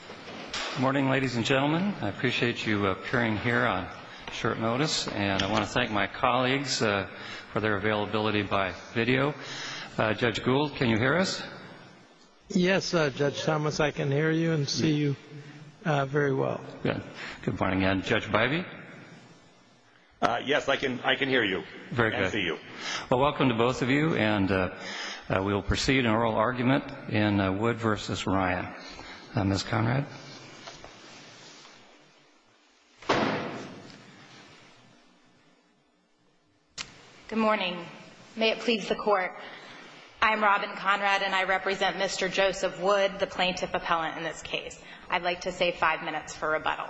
Good morning, ladies and gentlemen. I appreciate you appearing here on short notice, and I want to thank my colleagues for their availability by video. Judge Gould, can you hear us? Yes, Judge Thomas, I can hear you and see you very well. Good. Good morning. And Judge Bivey? Yes, I can hear you. Very good. And see you. Well, welcome to both of you, and we'll proceed in oral argument in Wood v. Ryan. Ms. Conrad? Good morning. May it please the Court. I'm Robin Conrad, and I represent Mr. Joseph Wood, the plaintiff appellant in this case. I'd like to save five minutes for rebuttal.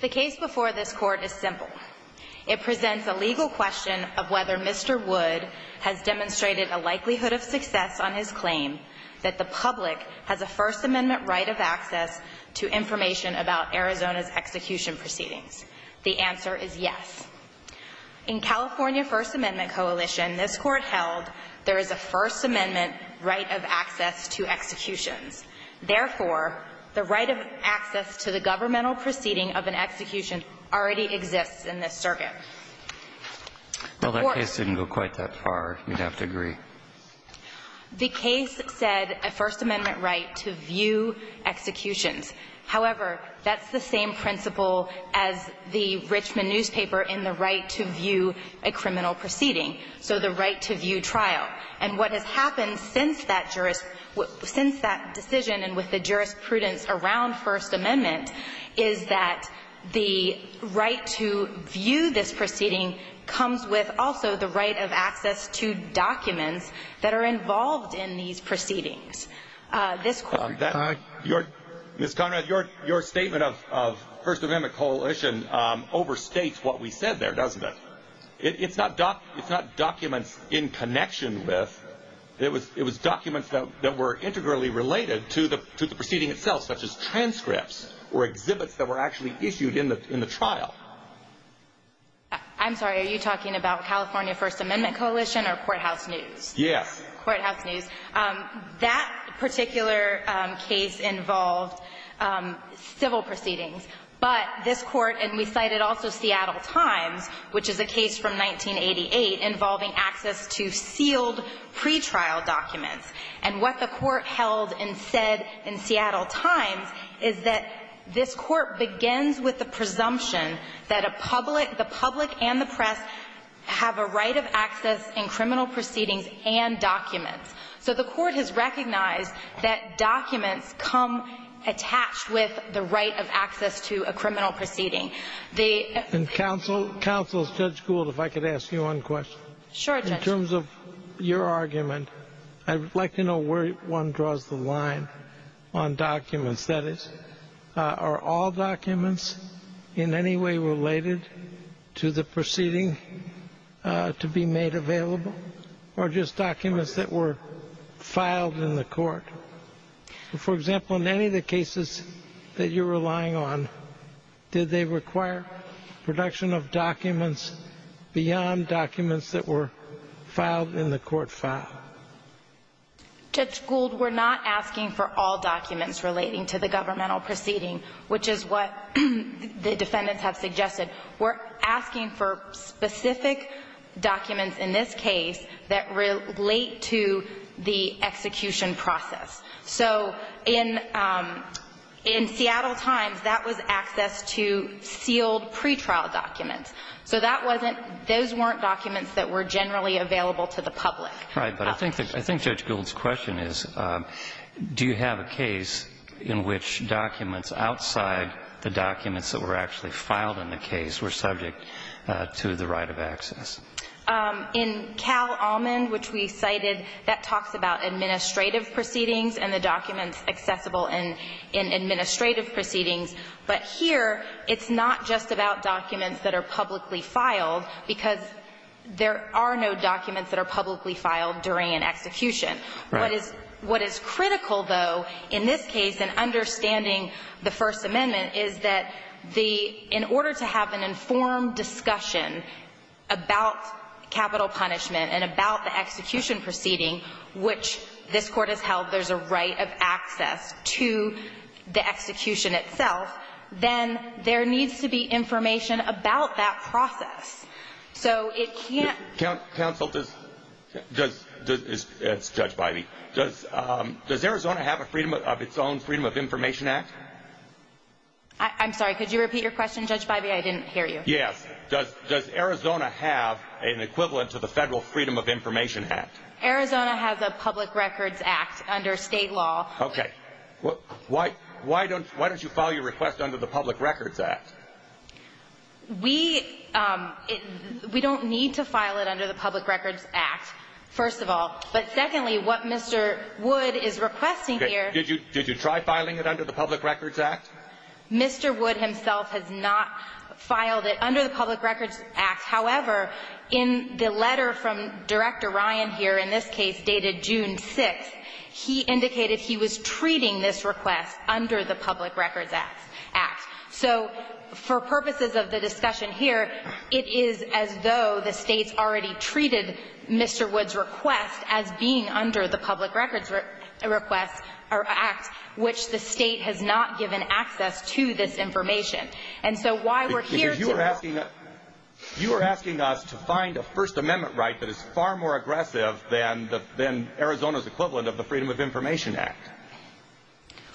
The case before this Court is simple. It presents a legal question of whether Mr. Wood has demonstrated a likelihood of success on his claim that the public has a First Amendment right of access to information about Arizona's execution proceedings. The answer is yes. In California First Amendment coalition, this Court held there is a First Amendment right of access to executions. Therefore, the right of access to the governmental proceeding of an execution already exists in this circuit. Well, that case didn't go quite that far. You'd have to agree. The case said a First Amendment right to view executions. However, that's the same principle as the Richmond newspaper in the right to view a criminal proceeding, so the right to view trial. And what has happened since that decision and with the jurisprudence around First Amendment is that the right to view this proceeding comes with also the right of access to documents that are involved in these proceedings. Ms. Conrad, your statement of First Amendment coalition overstates what we said there, doesn't it? It's not documents in connection with. It was documents that were integrally related to the proceeding itself, such as transcripts or exhibits that were actually issued in the trial. I'm sorry. Are you talking about California First Amendment coalition or courthouse news? Yes. Courthouse news. That particular case involved civil proceedings. But this Court, and we cited also Seattle Times, which is a case from 1988 involving access to sealed pretrial documents. And what the Court held and said in Seattle Times is that this Court begins with the presumption that a public, the public and the press, have a right of access in criminal proceedings and documents. So the Court has recognized that documents come attached with the right of access to a criminal proceeding. And counsel, Judge Gould, if I could ask you one question. Sure, Judge. In terms of your argument, I would like to know where one draws the line on documents. Are all documents in any way related to the proceeding to be made available or just documents that were filed in the court? For example, in any of the cases that you're relying on, did they require production of documents beyond documents that were filed in the court file? Judge Gould, we're not asking for all documents relating to the governmental proceeding, which is what the defendants have suggested. We're asking for specific documents in this case that relate to the execution process. So in Seattle Times, that was access to sealed pretrial documents. So that wasn't – those weren't documents that were generally available to the public. Right. But I think Judge Gould's question is, do you have a case in which documents outside the documents that were actually filed in the case were subject to the right of access? In Cal Almond, which we cited, that talks about administrative proceedings and the documents accessible in administrative proceedings. But here, it's not just about documents that are publicly filed, because there are no documents that are publicly filed during an execution. Right. What is critical, though, in this case in understanding the First Amendment, is that the – in order to have an informed discussion about capital punishment and about the execution proceeding, which this Court has held there's a right of access to the execution itself, then there needs to be information about that process. So it can't – Counsel, does – it's Judge Bybee. Does Arizona have a Freedom of – its own Freedom of Information Act? I'm sorry, could you repeat your question, Judge Bybee? I didn't hear you. Yes. Does Arizona have an equivalent to the Federal Freedom of Information Act? Arizona has a Public Records Act under state law. Okay. Why don't you file your request under the Public Records Act? We – we don't need to file it under the Public Records Act, first of all. But secondly, what Mr. Wood is requesting here – Did you try filing it under the Public Records Act? Mr. Wood himself has not filed it under the Public Records Act. However, in the letter from Director Ryan here, in this case dated June 6th, he indicated he was treating this request under the Public Records Act. So for purposes of the discussion here, it is as though the States already treated Mr. Wood's request as being under the Public Records Act, which the State has not given access to this information. And so why we're here to – You are asking us to find a First Amendment right that is far more aggressive than Arizona's equivalent of the Freedom of Information Act.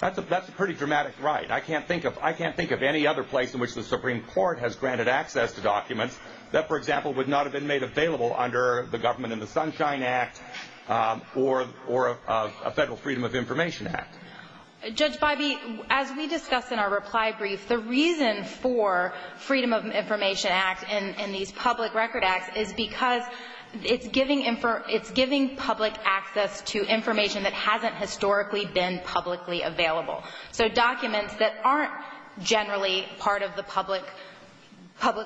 That's a pretty dramatic right. I can't think of any other place in which the Supreme Court has granted access to documents that, for example, would not have been made available under the Government in the Sunshine Act or a Federal Freedom of Information Act. Judge Bybee, as we discussed in our reply brief, the reason for Freedom of Information Act and these Public Records Acts is because it's giving public access to information that hasn't historically been publicly available. So documents that aren't generally part of the public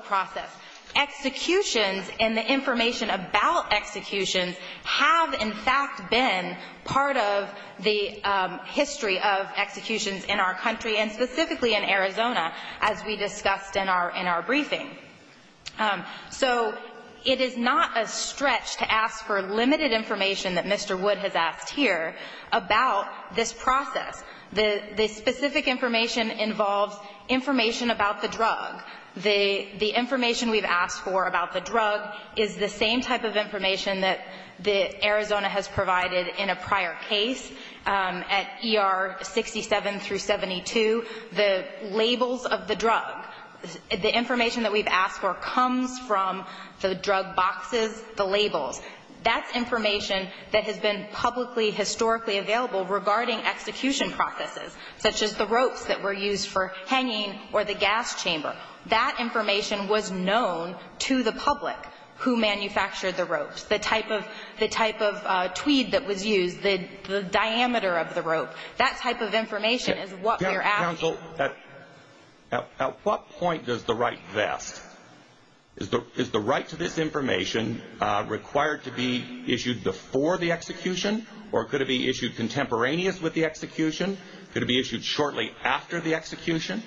process. Executions and the information about executions have, in fact, been part of the history of executions in our country, and specifically in Arizona, as we discussed in our briefing. So it is not a stretch to ask for limited information that Mr. Wood has asked here about this process. The specific information involves information about the drug. The information we've asked for about the drug is the same type of information that Arizona has provided in a prior case at ER 67 through 72. The labels of the drug, the information that we've asked for comes from the drug boxes, the labels. That's information that has been publicly, historically available regarding execution processes, such as the ropes that were used for hanging or the gas chamber. That information was known to the public who manufactured the ropes. The type of tweed that was used, the diameter of the rope, that type of information is what we're asking. Counsel, at what point does the right vest? Is the right to this information required to be issued before the execution, or could it be issued contemporaneous with the execution? Could it be issued shortly after the execution?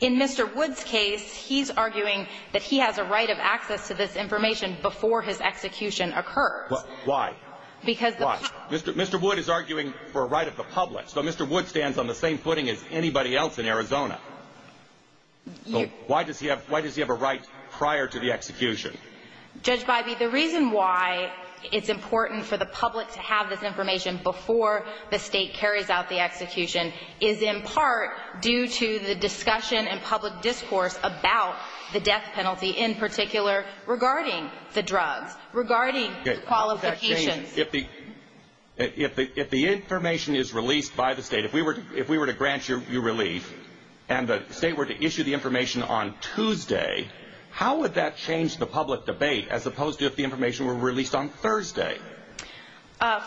In Mr. Wood's case, he's arguing that he has a right of access to this information before his execution occurs. Why? Because the past Mr. Wood is arguing for a right of the public. So Mr. Wood stands on the same footing as anybody else in Arizona. Why does he have a right prior to the execution? Judge Bybee, the reason why it's important for the public to have this information before the state carries out the execution is in part due to the discussion and public discourse about the death penalty, in particular, regarding the drugs, regarding the qualifications. If the information is released by the state, if we were to grant you relief, and the state were to issue the information on Tuesday, how would that change the public debate as opposed to if the information were released on Thursday?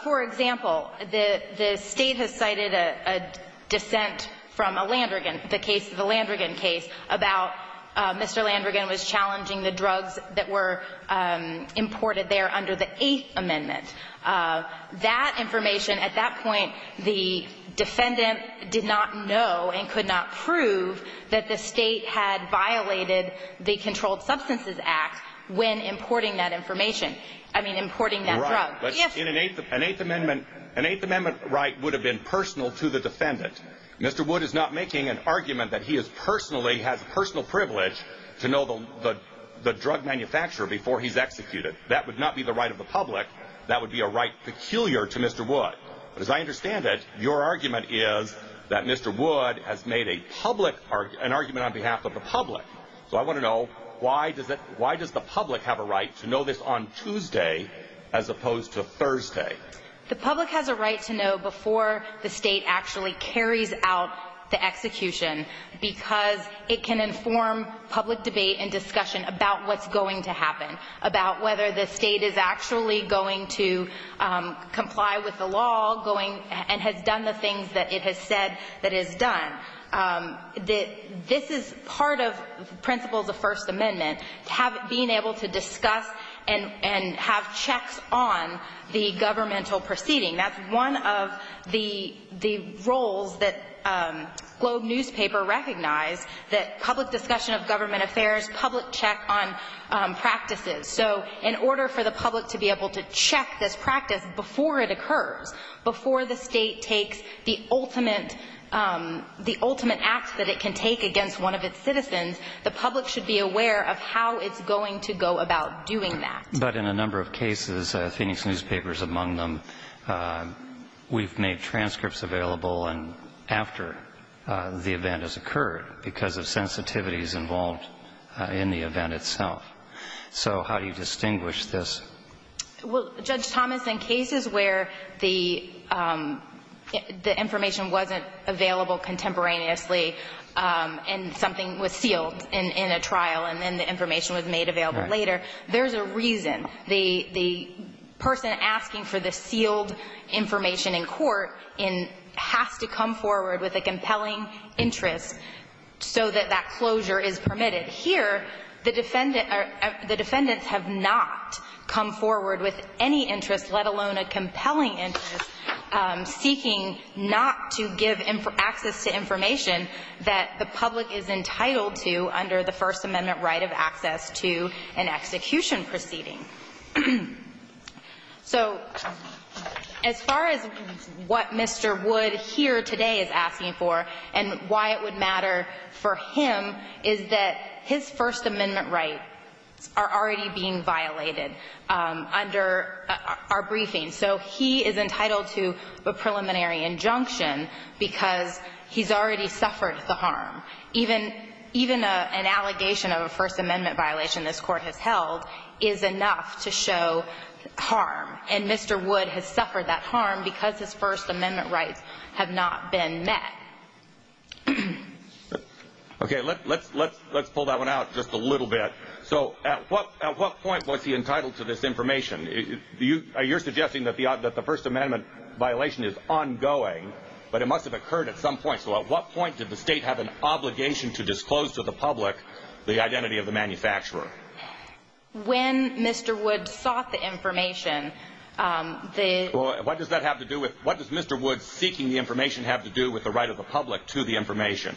For example, the state has cited a dissent from a Landrigan, the Landrigan case, about Mr. Landrigan was challenging the drugs that were imported there under the Eighth Amendment. That information, at that point, the defendant did not know and could not prove that the state had violated the Controlled Substances Act when importing that information. I mean, importing that drug. An Eighth Amendment right would have been personal to the defendant. Mr. Wood is not making an argument that he has personal privilege to know the drug manufacturer before he's executed. That would not be the right of the public. That would be a right peculiar to Mr. Wood. As I understand it, your argument is that Mr. Wood has made an argument on behalf of the public. So I want to know, why does the public have a right to know this on Tuesday as opposed to Thursday? The public has a right to know before the state actually carries out the execution because it can inform public debate and discussion about what's going to happen, about whether the state is actually going to comply with the law and has done the things that it has said that it has done. This is part of the principles of the First Amendment, being able to discuss and have checks on the governmental proceeding. That's one of the roles that Globe newspaper recognized, that public discussion of government affairs, public check on practices. So in order for the public to be able to check this practice before it occurs, before the state takes the ultimate act that it can take against one of its citizens, the public should be aware of how it's going to go about doing that. But in a number of cases, Phoenix newspapers among them, we've made transcripts available after the event has occurred because of sensitivities involved in the event itself. So how do you distinguish this? Well, Judge Thomas, in cases where the information wasn't available contemporaneously and something was sealed in a trial and then the information was made available later, there's a reason. The person asking for the sealed information in court has to come forward with a compelling interest so that that closure is permitted. Here, the defendants have not come forward with any interest, let alone a compelling interest, seeking not to give access to information that the public is entitled to under the First Amendment right of access to an execution proceeding. So as far as what Mr. Wood here today is asking for and why it would matter for him, is that his First Amendment rights are already being violated under our briefing. So he is entitled to a preliminary injunction because he's already suffered the harm. Even an allegation of a First Amendment violation this Court has held is enough to show harm, and Mr. Wood has suffered that harm because his First Amendment rights have not been met. Okay, let's pull that one out just a little bit. So at what point was he entitled to this information? You're suggesting that the First Amendment violation is ongoing, but it must have occurred at some point. So at what point did the State have an obligation to disclose to the public the identity of the manufacturer? When Mr. Wood sought the information, the… What does Mr. Wood seeking the information have to do with the right of the public to the information?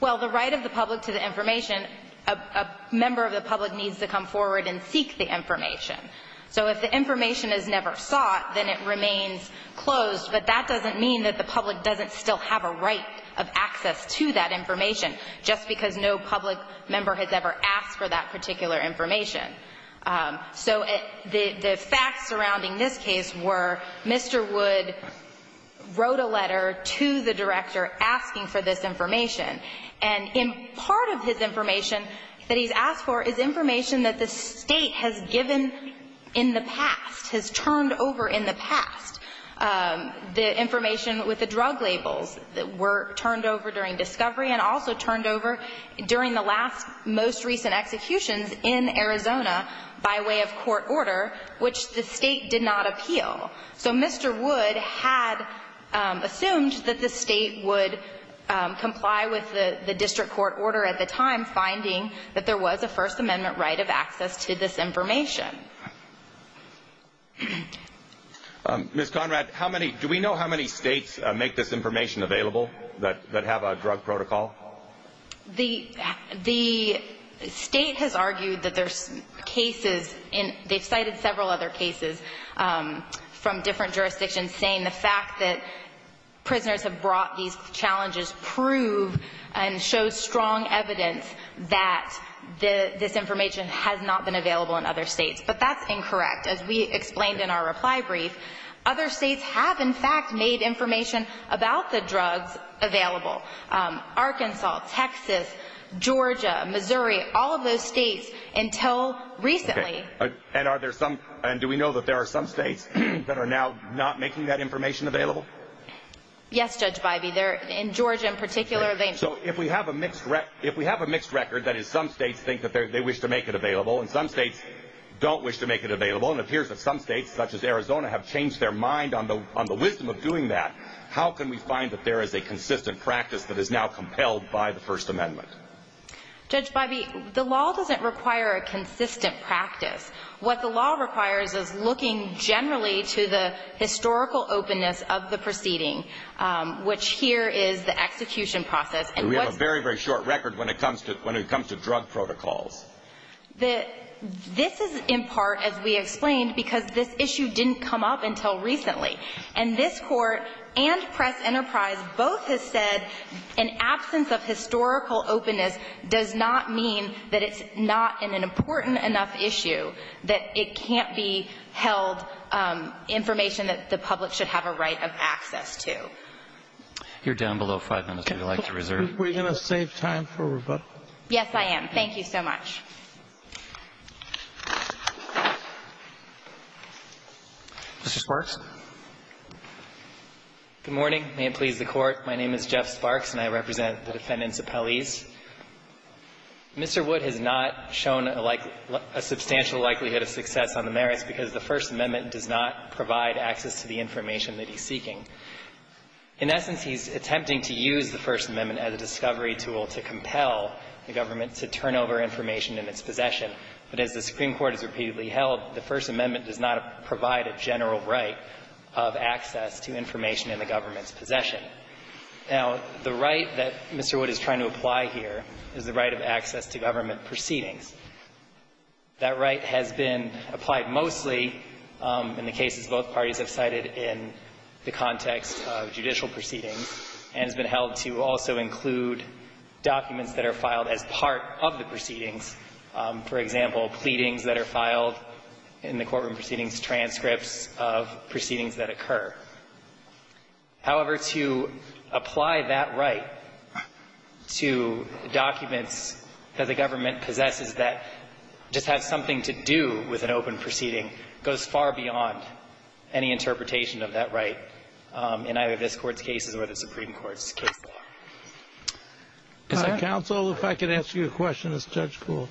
Well, the right of the public to the information, a member of the public needs to come forward and seek the information. So if the information is never sought, then it remains closed, but that doesn't mean that the public doesn't still have a right of access to that information just because no public member has ever asked for that particular information. So the facts surrounding this case were Mr. Wood wrote a letter to the director asking for this information, and part of his information that he's asked for is information that the State has given in the past, has turned over in the past. The information with the drug labels were turned over during discovery and also turned over during the last most recent executions in Arizona by way of court order, which the State did not appeal. So Mr. Wood had assumed that the State would comply with the district court order at the time, finding that there was a First Amendment right of access to this information. Ms. Conrad, do we know how many States make this information available that have a drug protocol? The State has argued that there's cases, they've cited several other cases from different jurisdictions, saying the fact that prisoners have brought these challenges prove and show strong evidence that this information has not been available in other States. But that's incorrect. As we explained in our reply brief, other States have in fact made information about the drugs available. Arkansas, Texas, Georgia, Missouri, all of those States until recently. And do we know that there are some States that are now not making that information available? Yes, Judge Bybee. In Georgia in particular, they... So if we have a mixed record, that is some States think that they wish to make it available, and some States don't wish to make it available, and it appears that some States, such as Arizona, have changed their mind on the wisdom of doing that, how can we find that there is a consistent practice that is now compelled by the First Amendment? Judge Bybee, the law doesn't require a consistent practice. What the law requires is looking generally to the historical openness of the proceeding, which here is the execution process. And we have a very, very short record when it comes to drug protocols. This is in part, as we explained, because this issue didn't come up until recently. And this Court and Press Enterprise both have said an absence of historical openness does not mean that it's not an important enough issue, that it can't be held information that the public should have a right of access to. You're down below five minutes. Would you like to reserve? Are we going to save time for rebuttal? Yes, I am. Thank you so much. Mr. Sparks? Good morning. May it please the Court. My name is Jeff Sparks, and I represent the defendants appellees. Mr. Wood has not shown a substantial likelihood of success on the merits because the First Amendment does not provide access to the information that he's seeking. In essence, he's attempting to use the First Amendment as a discovery tool to compel the government to turn over information in its possession. But as the Supreme Court has repeatedly held, the First Amendment does not provide a general right of access to information in the government's possession. Now, the right that Mr. Wood is trying to apply here is the right of access to government proceedings. That right has been applied mostly in the cases both parties have cited in the context of judicial proceedings and has been held to also include documents that are filed as part of the proceedings. For example, pleadings that are filed in the courtroom proceedings, transcripts of proceedings that occur. However, to apply that right to documents that the government possesses that just have something to do with an open proceeding goes far beyond any interpretation of that right in either this Court's cases or the Supreme Court's cases. MR. COOPER COOPER Counsel, if I could ask you a question as Judge Coole.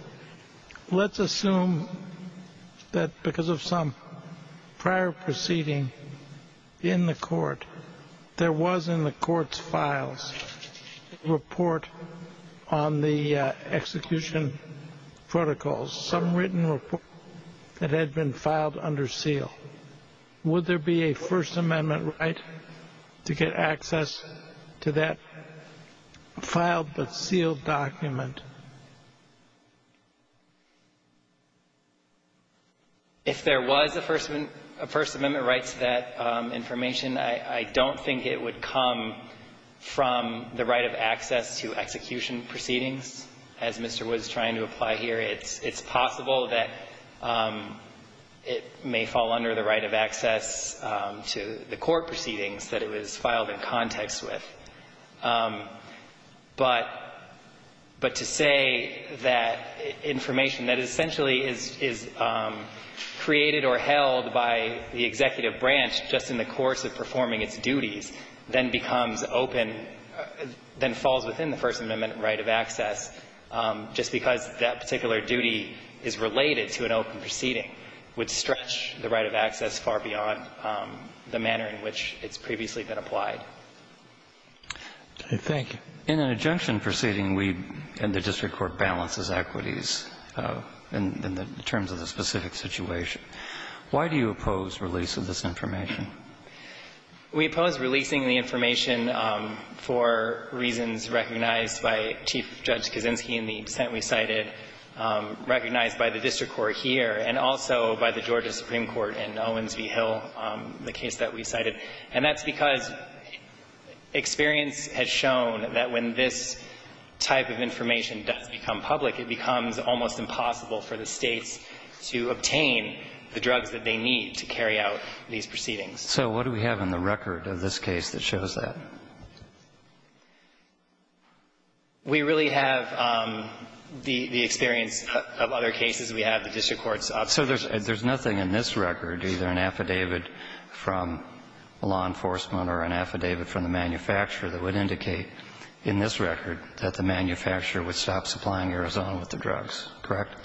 Let's assume that because of some prior proceeding in the Court, there was in the Court's files a report on the execution protocols, some written report that had been filed under seal. Would there be a First Amendment right to get access to that filed-but-sealed document? If there was a First Amendment right to that information, I don't think it would come from the right of access to execution proceedings, as Mr. Wood is trying to apply here. It's possible that it may fall under the right of access to the court proceedings that it was filed in context with. But to say that information that essentially is created or held by the executive branch just in the course of performing its duties then becomes open, then falls within the First Amendment right of access, just because that particular duty is related to an open proceeding would stretch the right of access far beyond the manner in which it's previously been applied. Thank you. In an injunction proceeding, we and the district court balances equities in terms of the specific situation. Why do you oppose release of this information? We oppose releasing the information for reasons recognized by Chief Judge Kaczynski in the dissent we cited, recognized by the district court here and also by the Georgia Supreme Court in Owens v. Hill, the case that we cited. And that's because experience has shown that when this type of information does become public, it becomes almost impossible for the States to obtain the drugs that they need to carry out these proceedings. So what do we have in the record of this case that shows that? We really have the experience of other cases. We have the district court's. So there's nothing in this record, either an affidavit from law enforcement or an affidavit from the manufacturer, that would indicate in this record that the manufacturer would stop supplying Arizona with the drugs, correct?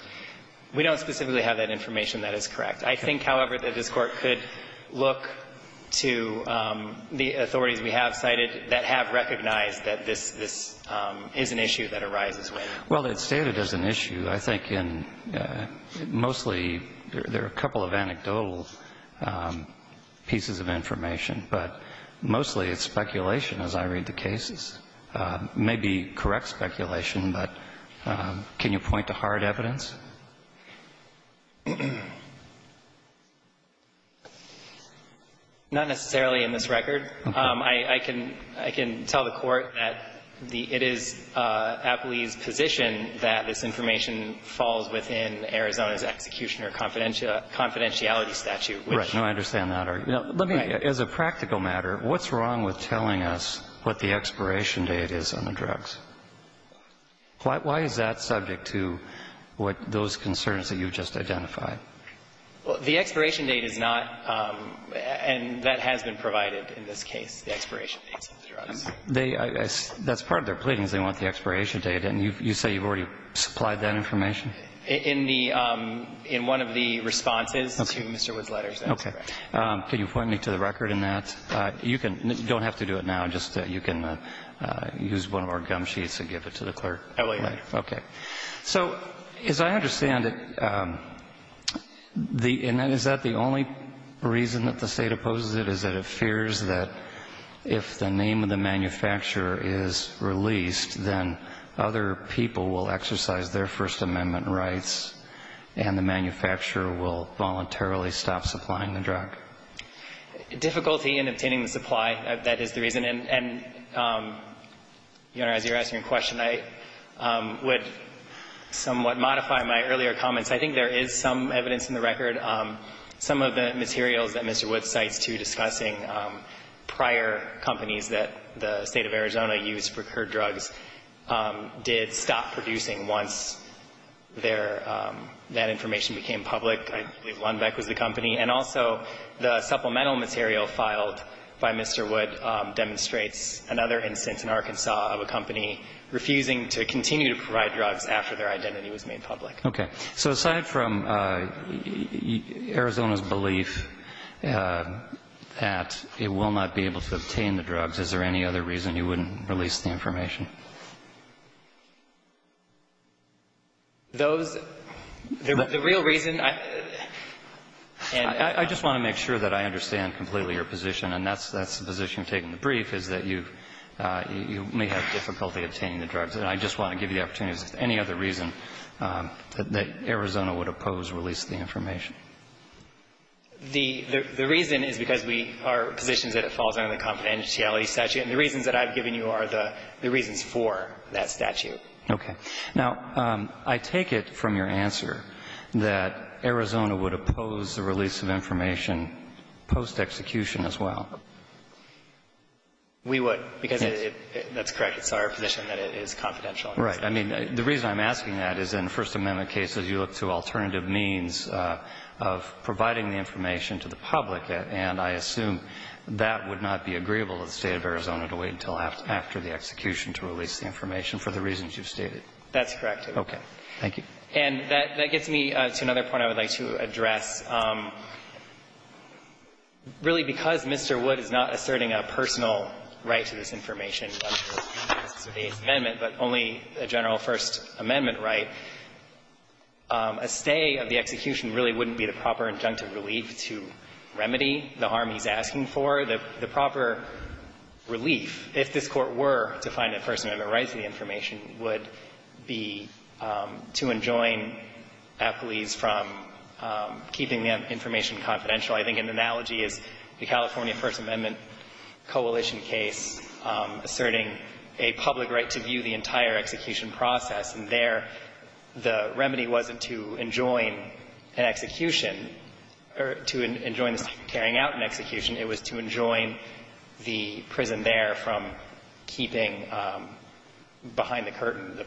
We don't specifically have that information that is correct. I think, however, that this Court could look to the authorities we have cited that have recognized that this is an issue that arises with it. Well, it's stated as an issue. I think mostly there are a couple of anecdotal pieces of information, but mostly it's speculation as I read the cases. It may be correct speculation, but can you point to hard evidence? Not necessarily in this record. I can tell the Court that it is Apley's position that this information falls within Arizona's executioner confidentiality statute. Right. No, I understand that. Let me, as a practical matter, what's wrong with telling us what the expiration date is on the drugs? Why is that subject to what those concerns that you've just identified? The expiration date is not, and that has been provided in this case, the expiration dates of the drugs. That's part of their pleadings. They want the expiration date. And you say you've already supplied that information? In one of the responses to Mr. Wood's letters. Okay. Can you point me to the record in that? You don't have to do it now. You can use one of our gum sheets and give it to the clerk. I will. Okay. So as I understand it, is that the only reason that the State opposes it, is that it fears that if the name of the manufacturer is released, then other people will exercise their First Amendment rights and the manufacturer will voluntarily stop supplying the drug? Difficulty in obtaining the supply, that is the reason. And, Your Honor, as you're asking a question, I would somewhat modify my earlier comments. I think there is some evidence in the record. Some of the materials that Mr. Wood cites, too, discussing prior companies that the State of Arizona used for crude drugs, did stop producing once their, that information became public. I believe Lundbeck was the company. And also the supplemental material filed by Mr. Wood demonstrates another instance in Arkansas of a company refusing to continue to provide drugs after their identity was made public. Okay. So aside from Arizona's belief that it will not be able to obtain the drugs, is there any other reason you wouldn't release the information? Those, the real reason, I just want to make sure that I understand completely your position, and that's the position I'm taking. The brief is that you may have difficulty obtaining the drugs. And I just want to give you the opportunity, is there any other reason that Arizona would oppose release of the information? The reason is because we are positioned that it falls under the confidentiality statute, and the reasons that I've given you are the reasons for that statute. Okay. Now, I take it from your answer that Arizona would oppose the release of information post-execution as well. We would, because that's correct. It's our position that it is confidential. Right. I mean, the reason I'm asking that is in First Amendment cases you look to alternative means of providing the information to the public, and I assume that would not be agreeable to the State of Arizona to wait until after the execution to release the information for the reasons you've stated. That's correct, Your Honor. Okay. Thank you. And that gets me to another point I would like to address. Really, because Mr. Wood is not asserting a personal right to this information on the basis of the Eighth Amendment, but only a general First Amendment right, a stay of the execution really wouldn't be the proper injunctive relief to remedy the harm he's asking for. The proper relief, if this Court were to find a First Amendment right to the information, would be to enjoin a police from keeping the information confidential. I think an analogy is the California First Amendment coalition case asserting a public right to view the entire execution process, and there the remedy wasn't to enjoin an execution or to enjoin the Secretary carrying out an execution, it was to enjoin the prison there from keeping behind the curtain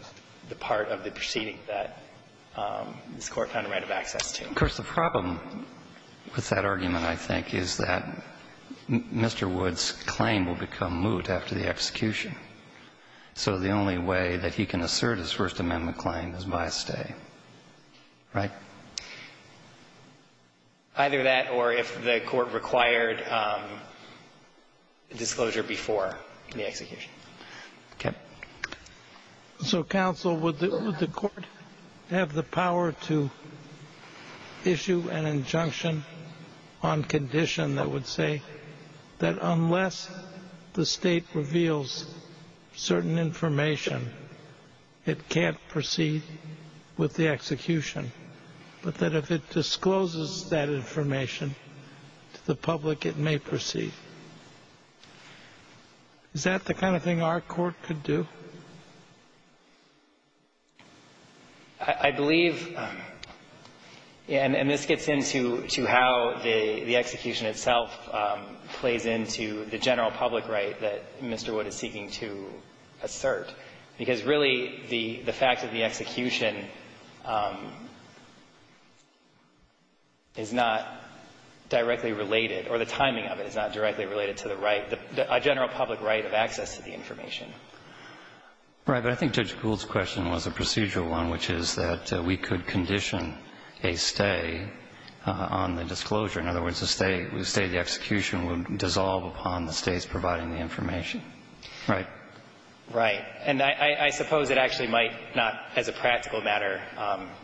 the part of the proceeding that this Court found a right of access to. Of course, the problem with that argument, I think, is that Mr. Wood's claim will become moot after the execution, so the only way that he can assert his First Amendment claim is by a stay. Right? Either that or if the Court required disclosure before the execution. Okay. So, counsel, would the Court have the power to issue an injunction on condition that would say that unless the State reveals certain information, it can't proceed with the execution, but that if it discloses that information to the public, it may proceed? Is that the kind of thing our Court could do? I believe, and this gets into how the execution itself plays into the general public right that Mr. Wood is seeking to assert, because, really, the fact of the execution is not directly related, or the timing of it is not directly related to the right, a general public right of access to the information. Right. But I think Judge Gould's question was a procedural one, which is that we could condition a stay on the disclosure. In other words, a stay, the execution would dissolve upon the States providing the information. Right. Right. And I suppose it actually might not, as a practical matter,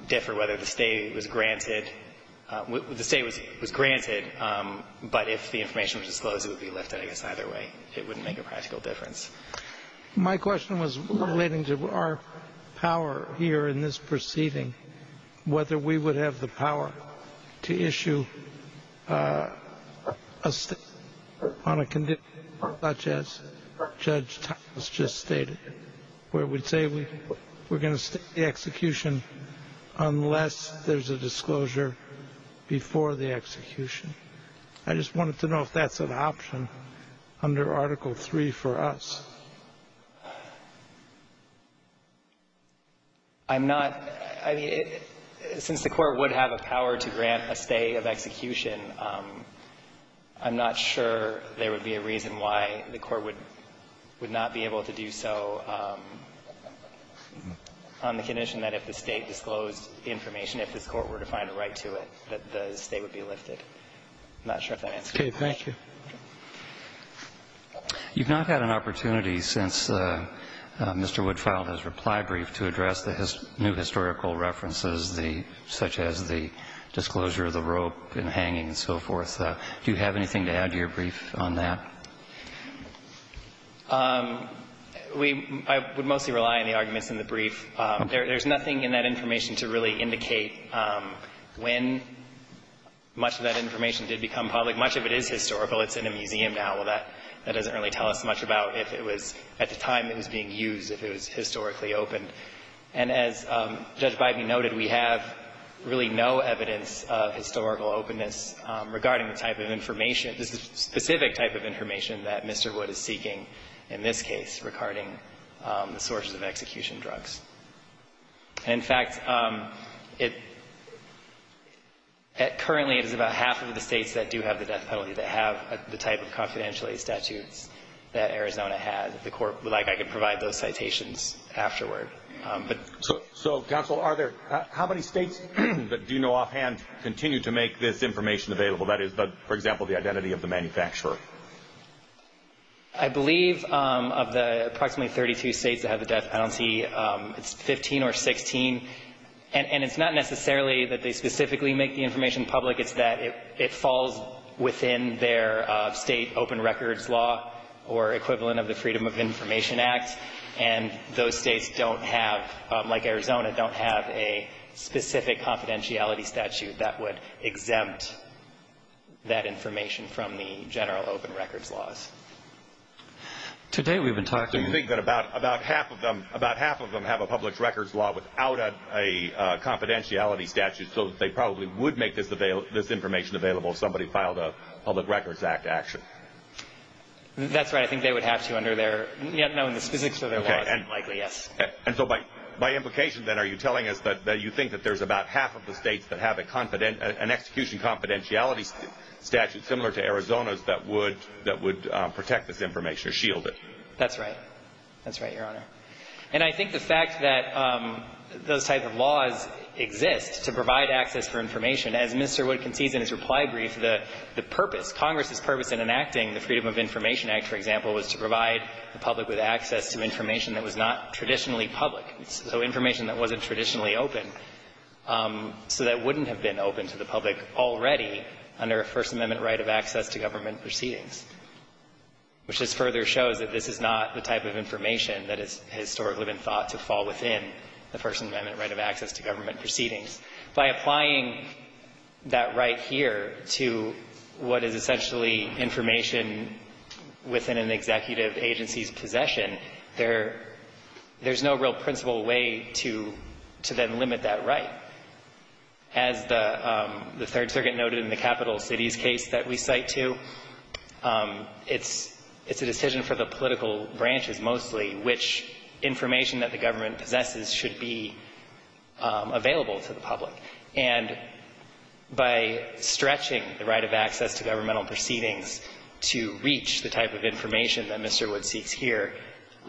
differ whether the stay was granted, the stay was granted, but if the information was disclosed, it would be lifted. I guess either way, it wouldn't make a practical difference. My question was relating to our power here in this proceeding, whether we would have the power to issue a stay on a condition such as Judge Thomas just stated, where we'd say we're going to stay the execution unless there's a disclosure before the execution. I just wanted to know if that's an option under Article III for us. I'm not. I mean, since the Court would have a power to grant a stay of execution, I'm not sure there would be a reason why the Court would not be able to do so on the condition that if the State disclosed information, if this Court were to find a right to it, that the stay would be lifted. I'm not sure if that answers your question. Okay. Thank you. You've not had an opportunity since Mr. Wood filed his reply brief to address the new historical references, such as the disclosure of the rope and hanging and so forth. Do you have anything to add to your brief on that? I would mostly rely on the arguments in the brief. There's nothing in that information to really indicate when much of that information did become public. Much of it is historical. It's in a museum now. Well, that doesn't really tell us much about if it was at the time it was being used, if it was historically open. And as Judge Bybee noted, we have really no evidence of historical openness regarding the type of information, the specific type of information that Mr. Wood is seeking in this case regarding the sources of execution drugs. And, in fact, it currently is about half of the States that do have the death penalty that have the type of confidentiality statutes that Arizona had. The Court would like I could provide those citations afterward. So, Counsel, how many States do you know offhand continue to make this information available, that is, for example, the identity of the manufacturer? I believe of the approximately 32 States that have the death penalty, it's 15 or 16. And it's not necessarily that they specifically make the information public. It's that it falls within their state open records law or equivalent of the Freedom of Information Act. And those States don't have, like Arizona, don't have a specific confidentiality statute that would exempt that information from the general open records laws. Today we've been talking. So you think that about half of them have a public records law without a confidentiality statute, so that they probably would make this information available if somebody filed a Public Records Act action? That's right. I think they would have to under their, you know, in the specifics of their laws. Okay. And likely, yes. And so by implication, then, are you telling us that you think that there's about half of the States that have an execution confidentiality statute similar to Arizona's that would protect this information or shield it? That's right. That's right, Your Honor. And I think the fact that those type of laws exist to provide access for information, as Mr. Wood concedes in his reply brief, the purpose, Congress's purpose in enacting the Freedom of Information Act, for example, was to provide the public with access to information that was not traditionally public, so information that wasn't traditionally open, so that wouldn't have been open to the public already under a First Amendment right of access to government proceedings, which just further shows that this is not the type of information that has historically been thought to fall within the First Amendment right of access to government proceedings. It's a decision for the political branches, mostly, which information that the government possesses should be available to the public. And by stretching the right of access to governmental proceedings to the public, to reach the type of information that Mr. Wood seeks here,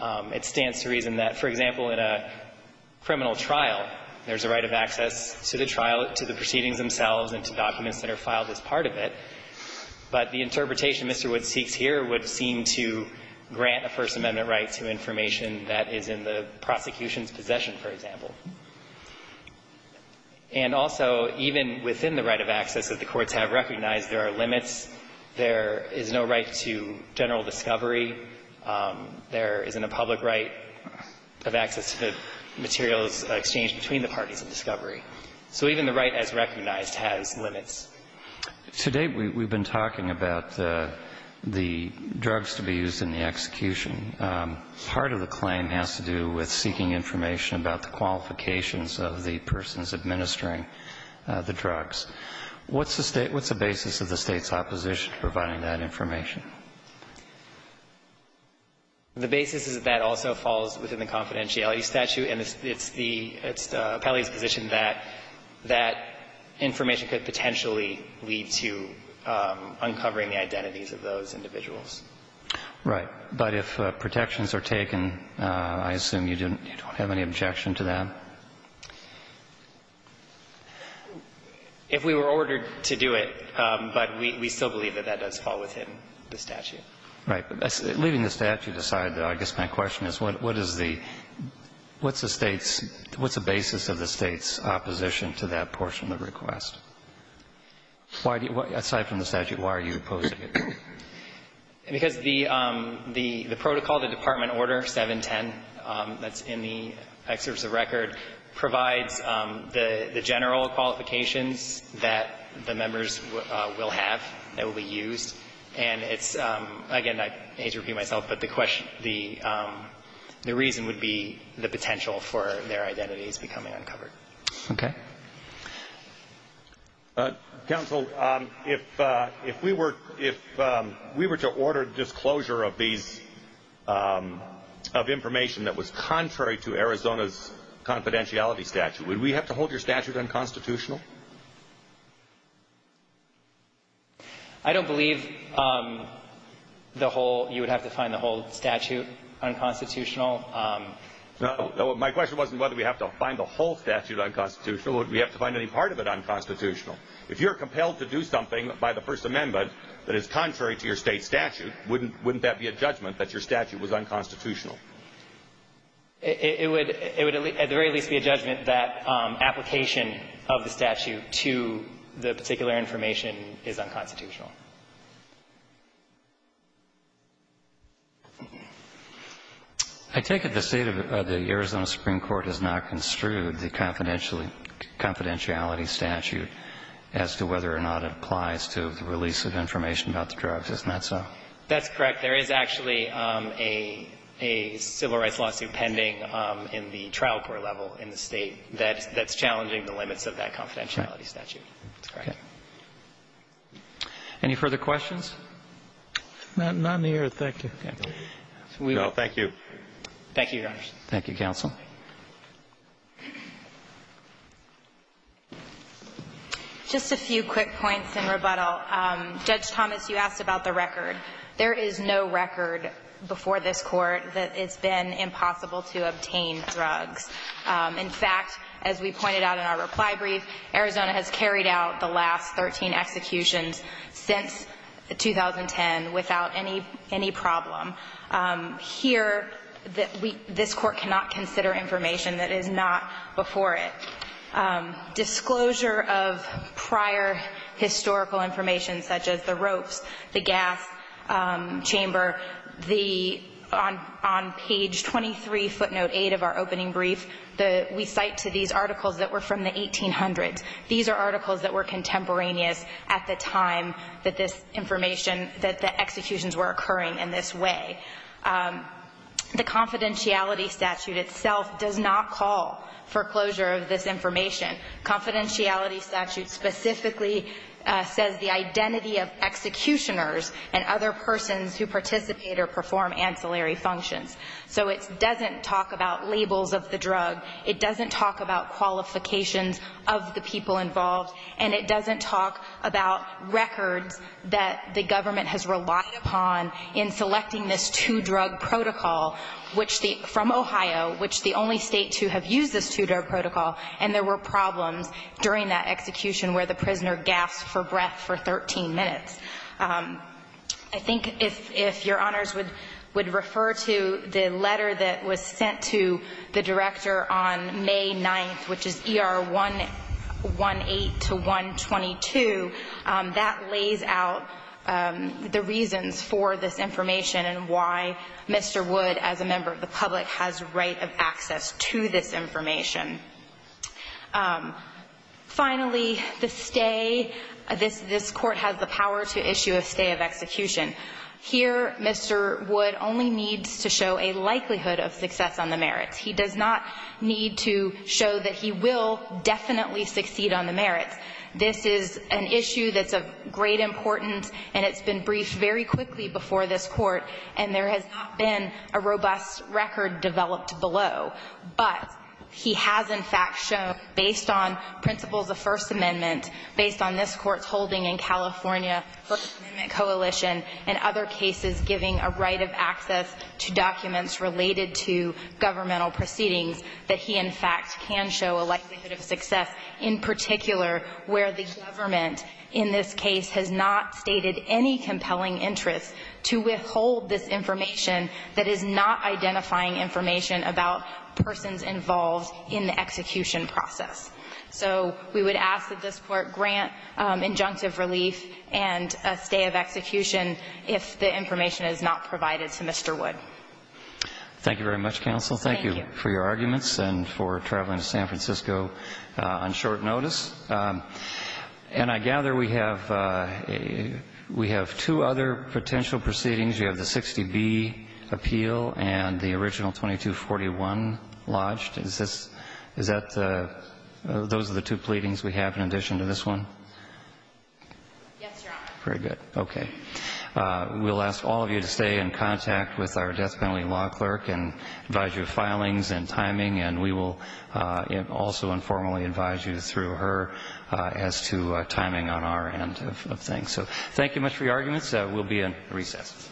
it stands to reason that, for example, in a criminal trial, there's a right of access to the trial, to the proceedings themselves, and to documents that are filed as part of it. But the interpretation Mr. Wood seeks here would seem to grant a First Amendment right to information that is in the prosecution's possession, for example. And also, even within the right of access, as the courts have recognized, there are limits. There is no right to general discovery. There isn't a public right of access to the materials exchanged between the parties of discovery. So even the right as recognized has limits. Today, we've been talking about the drugs to be used in the execution. Part of the claim has to do with seeking information about the qualifications of the persons administering the drugs. What's the basis of the State's opposition to providing that information? The basis is that also falls within the confidentiality statute. And it's the appellee's position that that information could potentially lead to uncovering the identities of those individuals. Right. But if protections are taken, I assume you don't have any objection to that? If we were ordered to do it, but we still believe that that does fall within the statute. Right. But leaving the statute aside, I guess my question is, what is the State's – what's the basis of the State's opposition to that portion of the request? Why do you – aside from the statute, why are you opposed to it? Because the protocol, the department order 710 that's in the excerpts of record provides the general qualifications that the members will have that will be used. And it's – again, I hate to repeat myself, but the reason would be the potential for their identities becoming uncovered. Okay. Counsel, if we were to order disclosure of these – of information that was contrary to Arizona's confidentiality statute, would we have to hold your statute unconstitutional? I don't believe the whole – you would have to find the whole statute unconstitutional. No. My question wasn't whether we have to find the whole statute unconstitutional. We have to find any part of it unconstitutional. If you're compelled to do something by the First Amendment that is contrary to your State statute, wouldn't that be a judgment that your statute was unconstitutional? It would at the very least be a judgment that application of the statute to the particular information is unconstitutional. I take it the State of the Arizona Supreme Court has not construed the confidentiality statute as to whether or not it applies to the release of information about the drugs. Isn't that so? That's correct. There is actually a civil rights lawsuit pending in the trial court level in the State that's challenging the limits of that confidentiality statute. Okay. Any further questions? Not in the air. Thank you. Thank you. Thank you, Your Honor. Thank you, counsel. Just a few quick points in rebuttal. Judge Thomas, you asked about the record. There is no record before this Court that it's been impossible to obtain drugs. In fact, as we pointed out in our reply brief, Arizona has carried out the last 13 executions since 2010 without any problem. Here, this Court cannot consider information that is not before it. Disclosure of prior historical information such as the ropes, the gas chamber, on page 23, footnote 8 of our opening brief, we cite to these articles that were from the 1800s. These are articles that were contemporaneous at the time that this information that the executions were occurring in this way. The confidentiality statute itself does not call for closure of this information. The confidentiality statute specifically says the identity of executioners and other persons who participate or perform ancillary functions. So it doesn't talk about labels of the drug. It doesn't talk about qualifications of the people involved, and it doesn't talk about records that the government has relied upon in selecting this two-drug protocol from Ohio, which is the only state to have used this two-drug protocol, and there were problems during that execution where the prisoner gasped for breath for 13 minutes. I think if your honors would refer to the letter that was sent to the director on May 9th, which is ER 118 to 122, that lays out the reasons for this information and why Mr. Wood, as a member of the public, has right of access to this information. Finally, the stay. This Court has the power to issue a stay of execution. Here, Mr. Wood only needs to show a likelihood of success on the merits. He does not need to show that he will definitely succeed on the merits. This is an issue that's of great importance, and it's been briefed very quickly before this Court, and there has not been a robust record developed below. But he has, in fact, shown, based on principles of the First Amendment, based on this Court's holding in California First Amendment coalition and other cases giving a right of access to documents related to governmental proceedings, that he, in fact, can show a likelihood of success in particular where the government in this case has not stated any compelling interest to withhold this information that is not identifying information about persons involved in the execution process. So we would ask that this Court grant injunctive relief and a stay of execution if the information is not provided to Mr. Wood. Thank you very much, counsel. Thank you. Thank you for your arguments and for traveling to San Francisco on short notice. And I gather we have two other potential proceedings. You have the 60B appeal and the original 2241 lodged. Is that the – those are the two pleadings we have in addition to this one? Yes, Your Honor. Very good. Okay. We'll ask all of you to stay in contact with our death penalty law clerk and advise you of filings and timing. And we will also informally advise you through her as to timing on our end of things. So thank you much for your arguments. We'll be in recess.